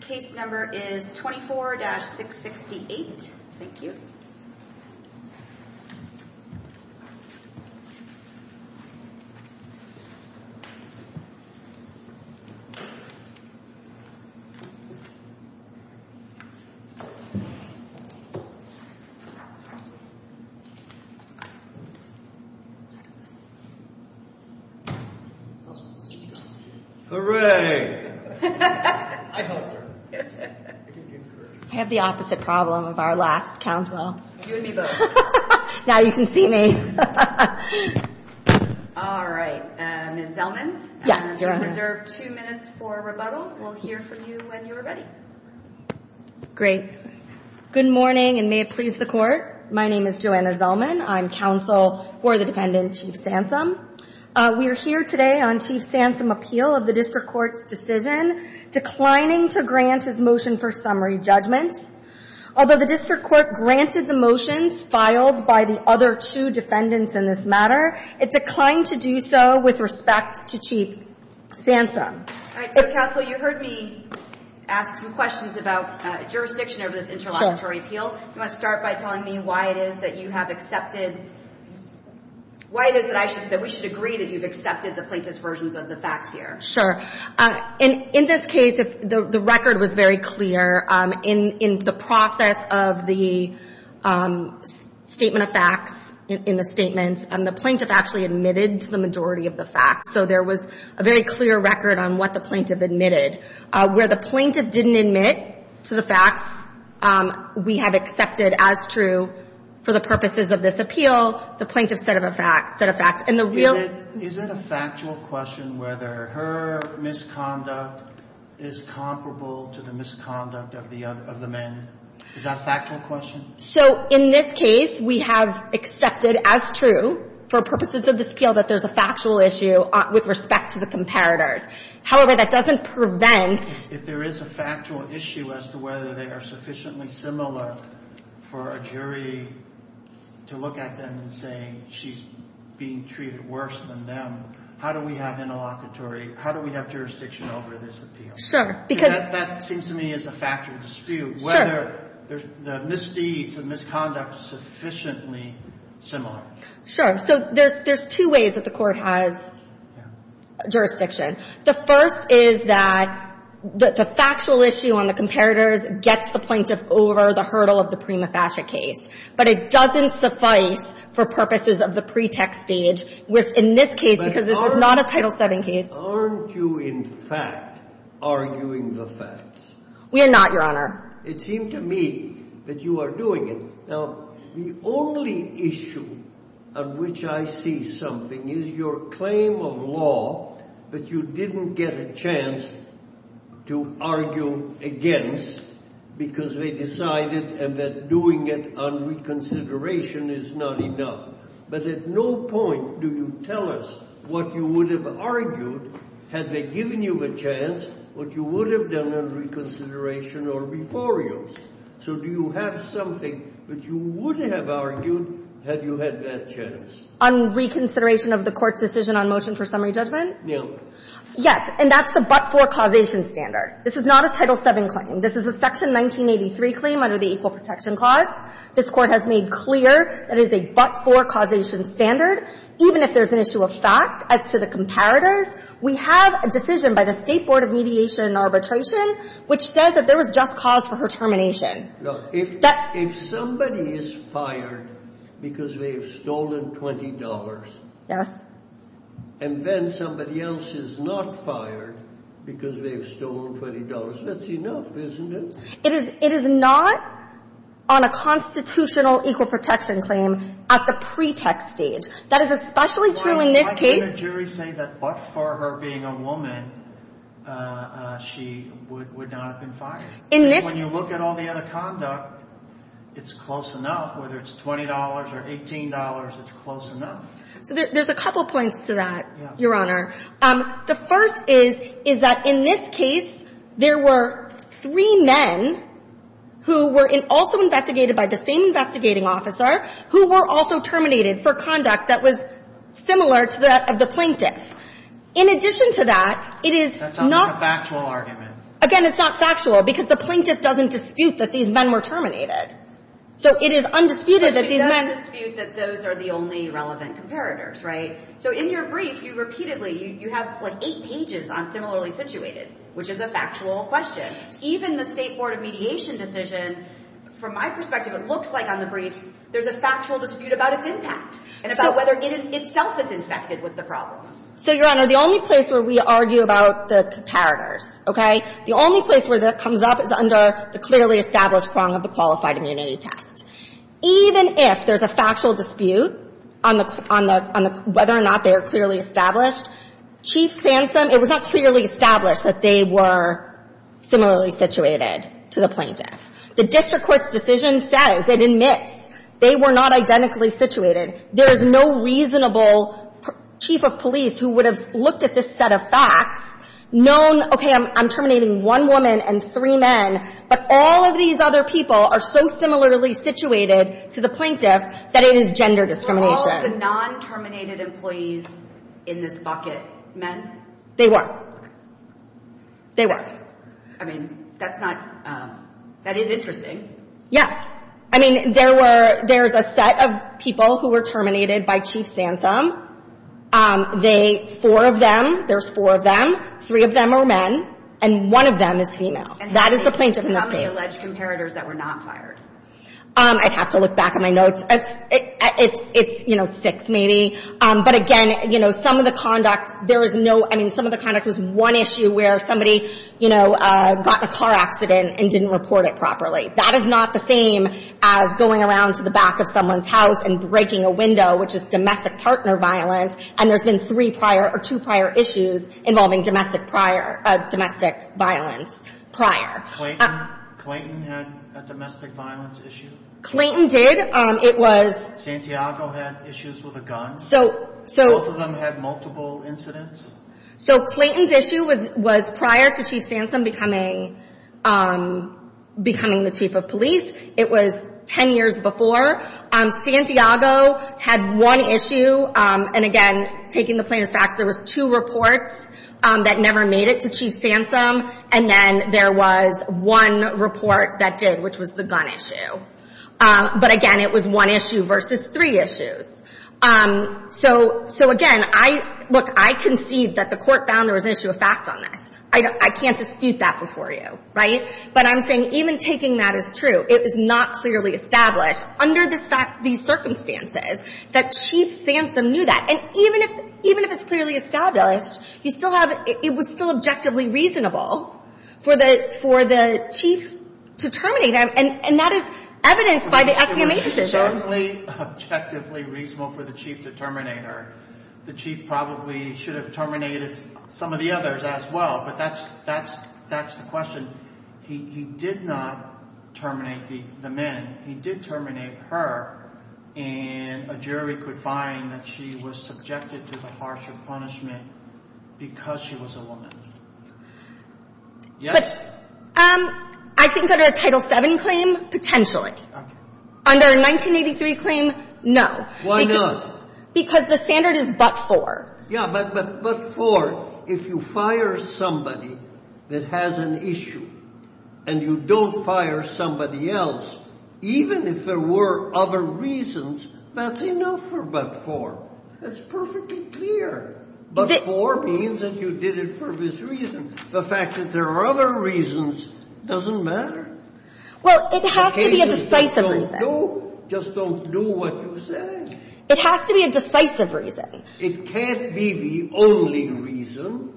Case number is 24-668 I have the opposite problem of our last counsel. You and me both. Now you can see me. All right. Ms. Zellman? Yes, Joanna. I'm going to reserve two minutes for rebuttal. We'll hear from you when you're ready. Great. Good morning, and may it please the Court. My name is Joanna Zellman. I'm counsel for the defendant, Chief Sansom. We are here today on Chief Sansom's appeal of the District Court's decision declining to grant his motion for summary judgment. Although the District Court granted the motions filed by the other two defendants in this matter, it declined to do so with respect to Chief Sansom. All right. So, counsel, you heard me ask some questions about jurisdiction over this interlocutory appeal. Do you want to start by telling me why it is that you have accepted – why it is that we should agree that you've accepted the plaintiff's versions of the facts here? Sure. In this case, the record was very clear. In the process of the statement of facts, in the statement, the plaintiff actually admitted to the majority of the facts. So there was a very clear record on what the plaintiff admitted. Where the plaintiff didn't admit to the facts, we have accepted as true for the purposes of this appeal, the plaintiff said a fact. Is it a factual question whether her misconduct is comparable to the misconduct of the men? Is that a factual question? So in this case, we have accepted as true for purposes of this appeal that there's a factual issue with respect to the comparators. However, that doesn't prevent – If there is a factual issue as to whether they are sufficiently similar for a jury to look at them and say she's being treated worse than them, how do we have interlocutory – how do we have jurisdiction over this appeal? Sure. Because – That seems to me is a factual dispute. Sure. Whether the misdeeds and misconduct is sufficiently similar. Sure. So there's two ways that the Court has jurisdiction. The first is that the factual issue on the comparators gets the plaintiff over the hurdle of the prima facie case. But it doesn't suffice for purposes of the pretext stage, which in this case, because it's not a Title VII case. But aren't you in fact arguing the facts? We are not, Your Honor. It seems to me that you are doing it. Now, the only issue on which I see something is your claim of law that you didn't get a chance to argue against because they decided that doing it on reconsideration is not enough. But at no point do you tell us what you would have argued had they given you a chance, what you would have done on reconsideration or before you. So do you have something that you would have argued had you had that chance? On reconsideration of the Court's decision on motion for summary judgment? Yes. And that's the but-for causation standard. This is not a Title VII claim. This is a Section 1983 claim under the Equal Protection Clause. This Court has made clear that it is a but-for causation standard. Even if there's an issue of fact as to the comparators, we have a decision by the State Board of Mediation and Arbitration which says that there was just cause for her termination. Look, if somebody is fired because they have stolen $20.00. Yes. And then somebody else is not fired because they have stolen $20.00, that's enough, isn't it? It is not on a constitutional equal protection claim at the pretext stage. That is especially true in this case. Why can't a jury say that but-for her being a woman, she would not have been fired? In this case. When you look at all the other conduct, it's close enough. Whether it's $20.00 or $18.00, it's close enough. So there's a couple points to that, Your Honor. Yes. The first is, is that in this case, there were three men who were also investigated by the same investigating officer who were also terminated for conduct that was similar to that of the plaintiff. In addition to that, it is not. That sounds like a factual argument. Again, it's not factual because the plaintiff doesn't dispute that these men were terminated. So it is undisputed that these men. But she does dispute that those are the only relevant comparators, right? So in your brief, you repeatedly, you have like eight pages on similarly situated, which is a factual question. Even the State Board of Mediation decision, from my perspective, it looks like on the briefs there's a factual dispute about its impact and about whether it itself is infected with the problems. So, Your Honor, the only place where we argue about the comparators, okay, the only place where that comes up is under the clearly established prong of the qualified immunity test. Even if there's a factual dispute on the, on the, on the, whether or not they are clearly established, Chief Sansom, it was not clearly established that they were similarly situated to the plaintiff. The district court's decision says, it admits, they were not identically situated. There is no reasonable chief of police who would have looked at this set of facts, known, okay, I'm terminating one woman and three men, but all of these other people are so similarly situated to the plaintiff that it is gender discrimination. Were all the non-terminated employees in this bucket men? They were. They were. I mean, that's not, that is interesting. Yeah. I mean, there were, there's a set of people who were terminated by Chief Sansom. They, four of them, there's four of them, three of them are men, and one of them is female. And that is the plaintiff in this case. And how many from the alleged comparators that were not fired? I'd have to look back in my notes. It's, it's, it's, you know, six maybe. But again, you know, some of the conduct, there is no, I mean, some of the conduct was one issue where somebody, you know, got in a car accident and didn't report it properly. That is not the same as going around to the back of someone's house and breaking a window, which is domestic partner violence, and there's been three prior or two prior issues involving domestic prior, domestic violence prior. Clayton, Clayton had a domestic violence issue? Clayton did. It was. Santiago had issues with a gun? So, so. Both of them had multiple incidents? So, Clayton's issue was, was prior to Chief Sansom becoming, becoming the Chief of Police. It was ten years before. Santiago had one issue. And again, taking the plaintiff's facts, there was two reports that never made it to Chief Sansom, and then there was one report that did, which was the gun issue. But again, it was one issue versus three issues. So, so again, I, look, I concede that the Court found there was an issue of fact on this. I don't, I can't dispute that before you. Right? But I'm saying even taking that as true, it is not clearly established under this fact, these circumstances, that Chief Sansom knew that. And even if, even if it's clearly established, you still have, it was still objectively reasonable for the, for the Chief to terminate him. And, and that is evidenced by the FBI decision. It's certainly objectively reasonable for the Chief to terminate her. The Chief probably should have terminated some of the others as well. But that's, that's, that's the question. He, he did not terminate the, the men. He did terminate her, and a jury could find that she was subjected to the harsher punishment because she was a woman. Yes? But, I think under a Title VII claim, potentially. Okay. Under a 1983 claim, no. Why not? Because the standard is but for. Yeah, but, but, but for. Well, if you fire somebody that has an issue, and you don't fire somebody else, even if there were other reasons, that's enough for but for. That's perfectly clear. But for means that you did it for this reason. The fact that there are other reasons doesn't matter. Well, it has to be a decisive reason. Just don't do, just don't do what you say. It has to be a decisive reason. It can't be the only reason.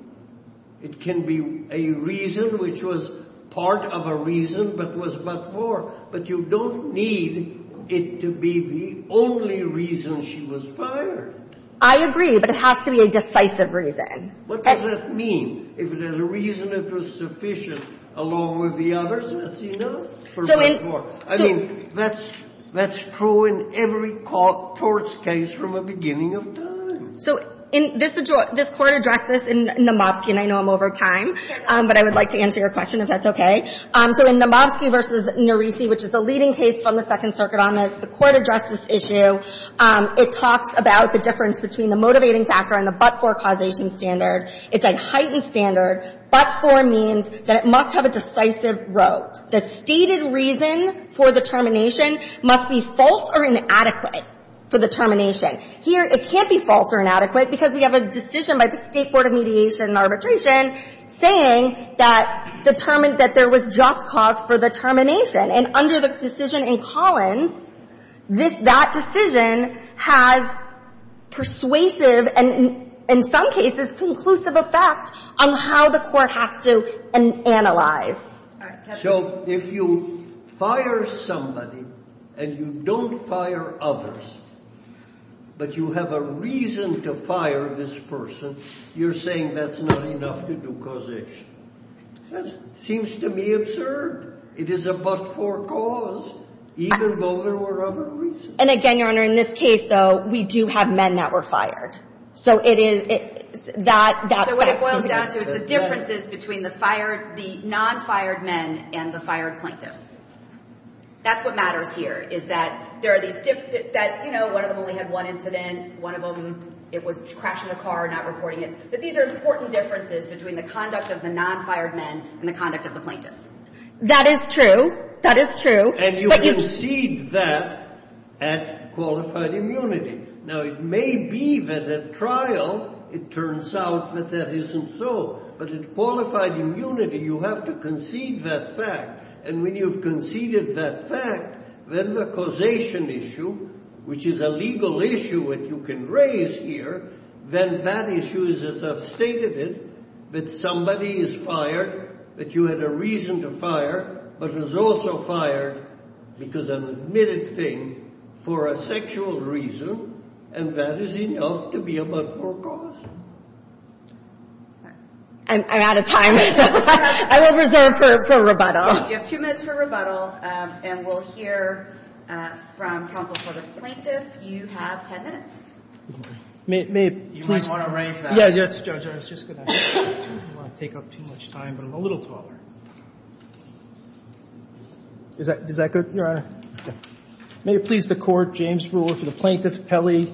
It can be a reason which was part of a reason but was but for. But you don't need it to be the only reason she was fired. I agree, but it has to be a decisive reason. What does that mean? If it has a reason that was sufficient along with the others, that's enough for but for. So this Court addressed this in Namovsky, and I know I'm over time, but I would like to answer your question, if that's okay. So in Namovsky v. Norisi, which is a leading case from the Second Circuit on this, the Court addressed this issue. It talks about the difference between the motivating factor and the but for causation standard. It's a heightened standard. But for means that it must have a decisive role. The stated reason for the termination must be false or inadequate for the termination. Here, it can't be false or inadequate because we have a decision by the State Court of Mediation and Arbitration saying that determined that there was just cause for the termination. And under the decision in Collins, this — that decision has persuasive and in some cases conclusive effect on how the Court has to analyze. So if you fire somebody and you don't fire others, but you have a reason to fire this person, you're saying that's not enough to do causation. That seems to me absurd. It is a but for cause, even though there were other reasons. And again, Your Honor, in this case, though, we do have men that were fired. So it is — that — So what it boils down to is the differences between the fired — the non-fired men and the fired plaintiff. That's what matters here, is that there are these — that, you know, one of them only had one incident. One of them, it was a crash in a car, not reporting it. But these are important differences between the conduct of the non-fired men and the conduct of the plaintiff. That is true. That is true. And you concede that at qualified immunity. Now, it may be that at trial, it turns out that that isn't so. But at qualified immunity, you have to concede that fact. And when you've conceded that fact, then the causation issue, which is a legal issue that you can raise here, then that issue is, as I've stated it, that somebody is fired, that you had a reason to fire, but was also fired because an admitted thing for a sexual reason. And that is enough to be a but-for cause. I'm out of time. I will reserve for rebuttal. You have two minutes for rebuttal. And we'll hear from counsel for the plaintiff. You have 10 minutes. You might want to raise that. Yes, Judge, I was just going to — I don't want to take up too much time, but I'm a little taller. Is that good, Your Honor? May it please the Court, James Brewer for the plaintiff, Pelley,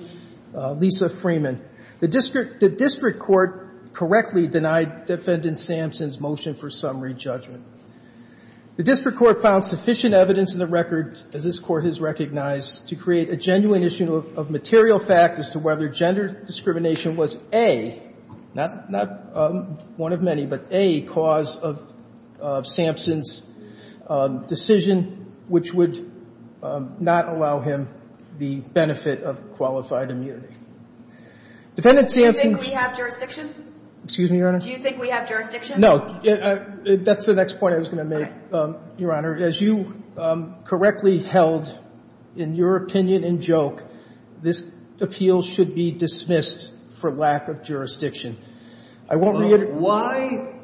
Lisa Freeman. The district court correctly denied Defendant Sampson's motion for summary judgment. The district court found sufficient evidence in the record, as this Court has recognized, to create a genuine issue of material fact as to whether gender discrimination was a, not one of many, but a cause of Sampson's decision, which would not allow him the benefit of qualified immunity. Defendant Sampson's — Do you think we have jurisdiction? Excuse me, Your Honor? Do you think we have jurisdiction? No. That's the next point I was going to make, Your Honor. Your Honor, as you correctly held in your opinion and joke, this appeal should be dismissed for lack of jurisdiction. I won't — Why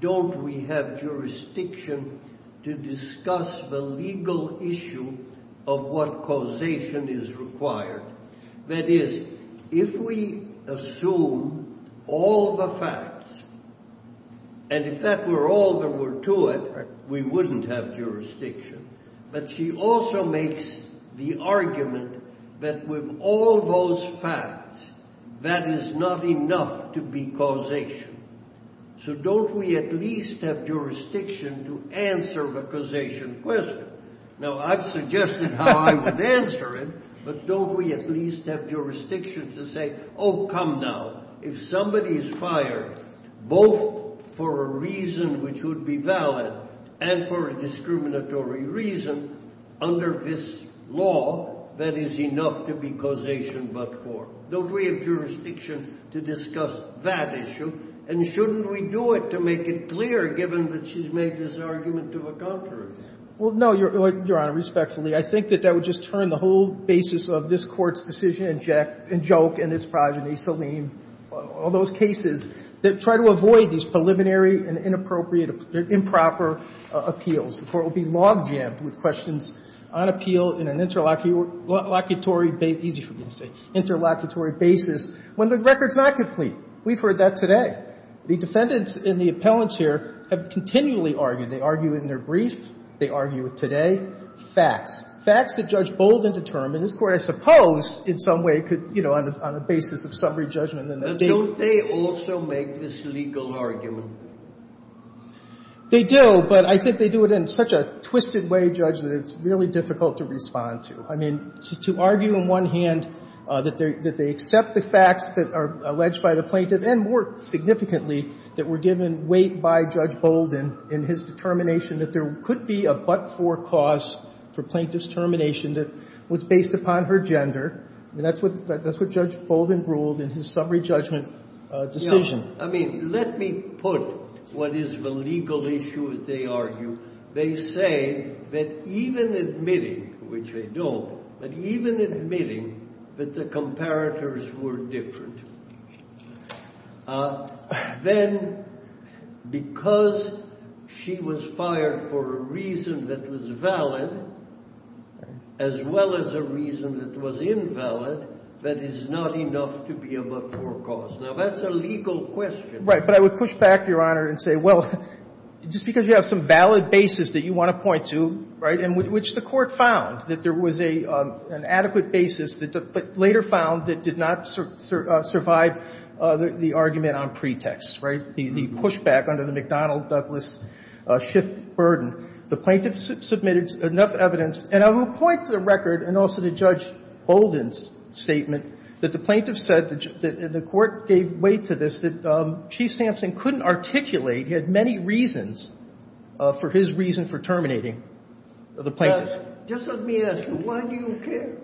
don't we have jurisdiction to discuss the legal issue of what causation is required? That is, if we assume all the facts, and if that were all there were to it, we wouldn't have jurisdiction. But she also makes the argument that with all those facts, that is not enough to be causation. So don't we at least have jurisdiction to answer the causation question? Now, I've suggested how I would answer it, but don't we at least have jurisdiction to say, oh, come now, if somebody is fired, both for a reason which would be valid and for a discriminatory reason, under this law, that is enough to be causation but for. Don't we have jurisdiction to discuss that issue? And shouldn't we do it to make it clear, given that she's made this argument to the contrary? Well, no, Your Honor, respectfully, I think that that would just turn the whole basis of this Court's decision and joke and its progeny, Saleem, all those cases that try to avoid these preliminary and inappropriate, improper appeals. The Court will be logjammed with questions on appeal in an interlocutory — easy for me to say — interlocutory basis when the record's not complete. We've heard that today. The defendants and the appellants here have continually argued. They argue it in their brief. They argue it today. Facts. Facts that Judge Bolden determined. This Court, I suppose, in some way could, you know, on the basis of summary judgment, and that they — Now, don't they also make this legal argument? They do, but I think they do it in such a twisted way, Judge, that it's really difficult to respond to. I mean, to argue in one hand that they accept the facts that are alleged by the plaintiff, and more significantly, that were given weight by Judge Bolden in his determination that there could be a but-for cause for plaintiff's termination that was based upon her gender. I mean, that's what Judge Bolden ruled in his summary judgment decision. I mean, let me put what is the legal issue that they argue. They say that even admitting, which they don't, that even admitting that the comparators were different. Then, because she was fired for a reason that was valid, as well as a reason that was invalid, that is not enough to be a but-for cause. Now, that's a legal question. Right. But I would push back, Your Honor, and say, well, just because you have some valid basis that you want to point to, right, and which the Court found, that there was an adequate basis, but later found that did not survive the argument on pretext, right, the pushback under the McDonnell-Douglas shift burden. The plaintiff submitted enough evidence. And I will point to the record, and also to Judge Bolden's statement, that the plaintiff said, and the Court gave weight to this, that Chief Sampson couldn't articulate he had many reasons for his reason for terminating the plaintiff. So, Judge, just let me ask you, why do you care?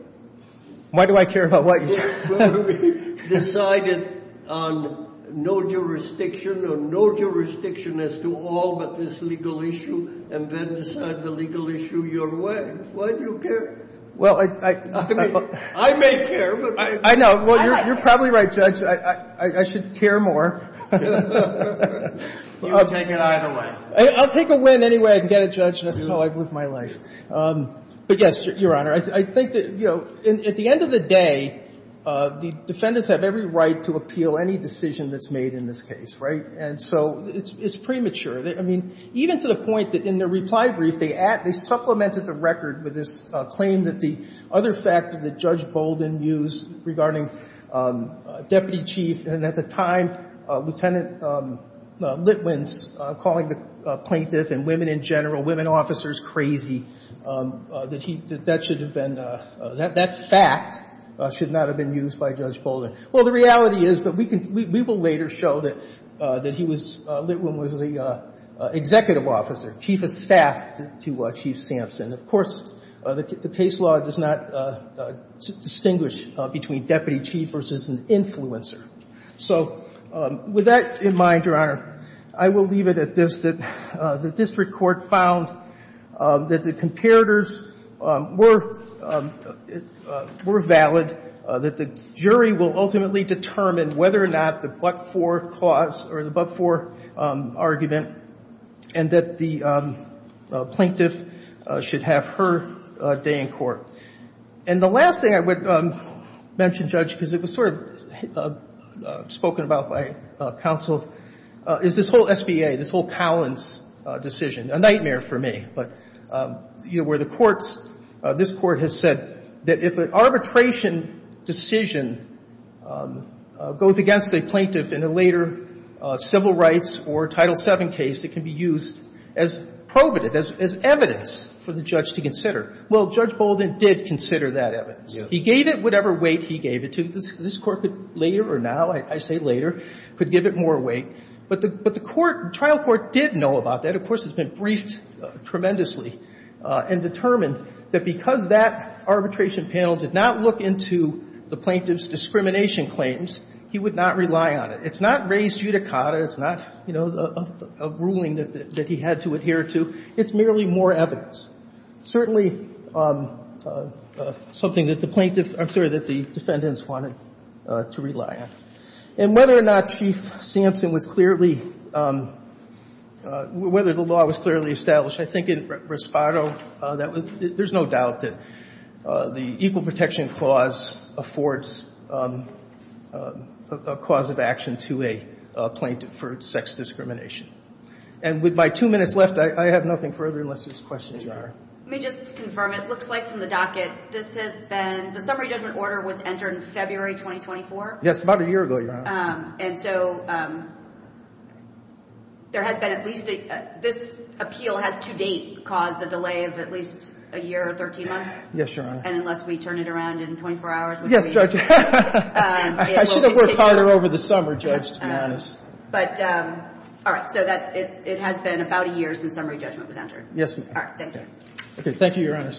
Why do I care about what you say? You decided on no jurisdiction or no jurisdiction as to all but this legal issue, and then decide the legal issue your way. Why do you care? Well, I don't know. I may care. I know. You're probably right, Judge. I should care more. You can take it either way. I'll take a win anyway. I can get it, Judge. That's how I've lived my life. But, yes, Your Honor, I think that, you know, at the end of the day, the defendants have every right to appeal any decision that's made in this case, right? And so it's premature. I mean, even to the point that in their reply brief, they supplemented the record with this claim that the other factor that Judge Bolden used regarding Deputy Chief, and at the time, Lieutenant Litwin's calling the plaintiff and women in general, women officers, crazy, that that should have been, that fact should not have been used by Judge Bolden. Well, the reality is that we will later show that he was, Litwin was the executive officer, chief of staff to Chief Sampson. Of course, the case law does not distinguish between deputy chief versus an influencer. So with that in mind, Your Honor, I will leave it at this, that the district court found that the comparators were valid, that the jury will ultimately determine whether or not the but-for cause or the but-for argument and that the plaintiff should have her day in court. And the last thing I would mention, Judge, because it was sort of spoken about by counsel, is this whole SBA, this whole Collins decision, a nightmare for me. But, you know, where the courts, this Court has said that if an arbitration decision goes against a plaintiff in a later civil rights or Title VII case, it can be used as probative, as evidence for the judge to consider. Well, Judge Bolden did consider that evidence. He gave it whatever weight he gave it to. This Court could later or now, I say later, could give it more weight. But the trial court did know about that. Of course, it's been briefed tremendously and determined that because that arbitration panel did not look into the plaintiff's discrimination claims, he would not rely on it. It's not raised judicata. It's not, you know, a ruling that he had to adhere to. It's merely more evidence. Certainly something that the plaintiff, I'm sorry, that the defendants wanted to rely on. And whether or not Chief Sampson was clearly, whether the law was clearly established, I think in Rispado, there's no doubt that the Equal Protection Clause affords a cause of action to a plaintiff for sex discrimination. And with my two minutes left, I have nothing further unless there's questions you have. Let me just confirm. It looks like from the docket, this has been, the summary judgment order was entered in February 2024. Yes, about a year ago, Your Honor. And so there has been at least a, this appeal has to date caused a delay of at least a year or 13 months. Yes, Your Honor. And unless we turn it around in 24 hours. Yes, Judge. I should have worked harder over the summer, Judge, to be honest. But, all right. So that, it has been about a year since summary judgment was entered. Yes, Your Honor. All right. Thank you. Okay. Thank you, Your Honor.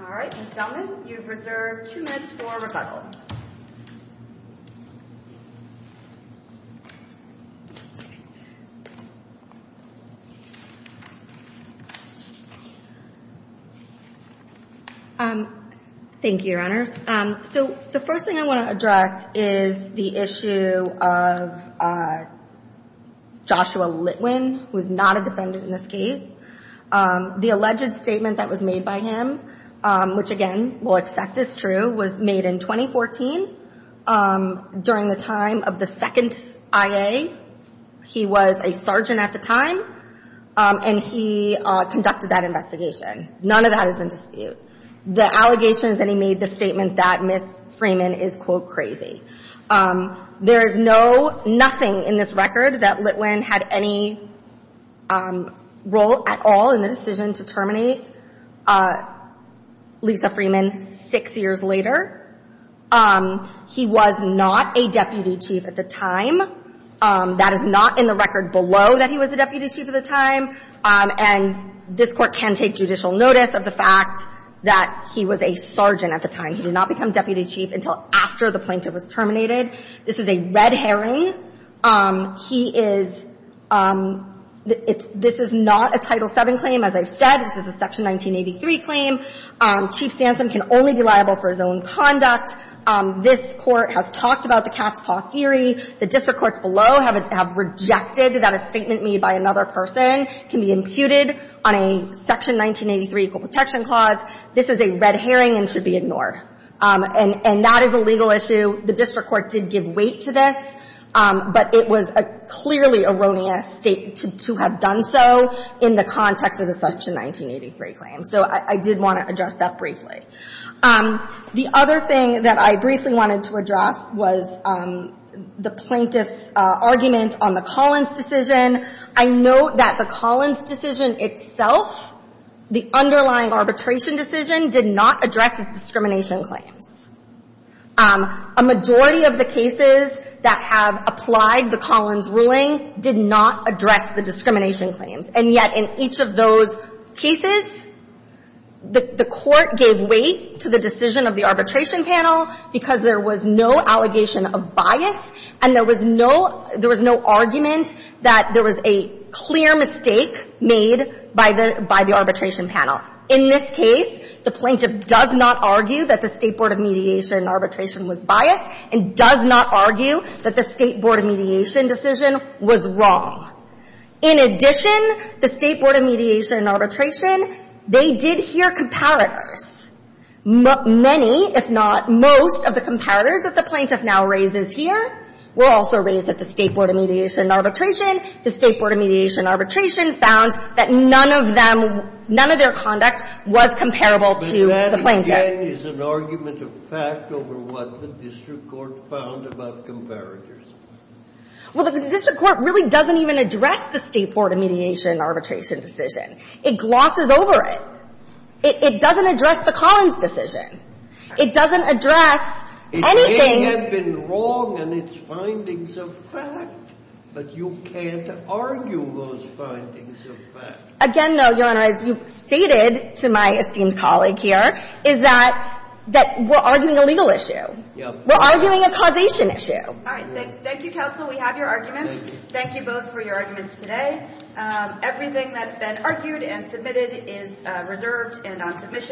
All right. Ms. Delman, you've reserved two minutes for rebuttal. Thank you, Your Honors. So the first thing I want to address is the issue of Joshua Litwin, who is not a defendant in this case. The alleged statement that was made by him, which again, we'll accept is true, was made in 2014. During the time of the second IA, he was a sergeant at the time, and he conducted that investigation. None of that is in dispute. The allegation is that he made the statement that Ms. Freeman is, quote, crazy. There is no, nothing in this record that Litwin had any role at all in the decision to terminate Lisa Freeman six years later. He was not a deputy chief at the time. That is not in the record below that he was a deputy chief at the time. And this Court can take judicial notice of the fact that he was a sergeant at the time. He did not become deputy chief until after the plaintiff was terminated. This is a red herring. He is, this is not a Title VII claim, as I've said. This is a Section 1983 claim. Chief Sansum can only be liable for his own conduct. This Court has talked about the cat's paw theory. The district courts below have rejected that a statement made by another person can be imputed on a Section 1983 equal protection clause. This is a red herring and should be ignored. And that is a legal issue. The district court did give weight to this, but it was a clearly erroneous State to have done so in the context of the Section 1983 claim. So I did want to address that briefly. The other thing that I briefly wanted to address was the plaintiff's argument on the Collins decision. I note that the Collins decision itself, the underlying arbitration decision, did not address his discrimination claims. A majority of the cases that have applied the Collins ruling did not address the discrimination claims. And yet in each of those cases, the Court gave weight to the decision of the arbitration panel because there was no allegation of bias and there was no, there was no argument that there was a clear mistake made by the, by the arbitration panel. In this case, the plaintiff does not argue that the State Board of Mediation arbitration was biased and does not argue that the State Board of Mediation decision was wrong. In addition, the State Board of Mediation arbitration, they did hear comparators. Many, if not most, of the comparators that the plaintiff now raises here were also raised at the State Board of Mediation arbitration. The State Board of Mediation arbitration found that none of them, none of their conduct was comparable to the plaintiff's. This, again, is an argument of fact over what the district court found about comparators. Well, the district court really doesn't even address the State Board of Mediation arbitration decision. It glosses over it. It doesn't address the Collins decision. It doesn't address anything. It may have been wrong in its findings of fact, but you can't argue those findings of fact. Again, though, Your Honor, as you've stated to my esteemed colleague here, is that we're arguing a legal issue. We're arguing a causation issue. All right. Thank you, counsel. We have your arguments. Thank you both for your arguments today. Everything that's been argued and submitted is reserved and on submission.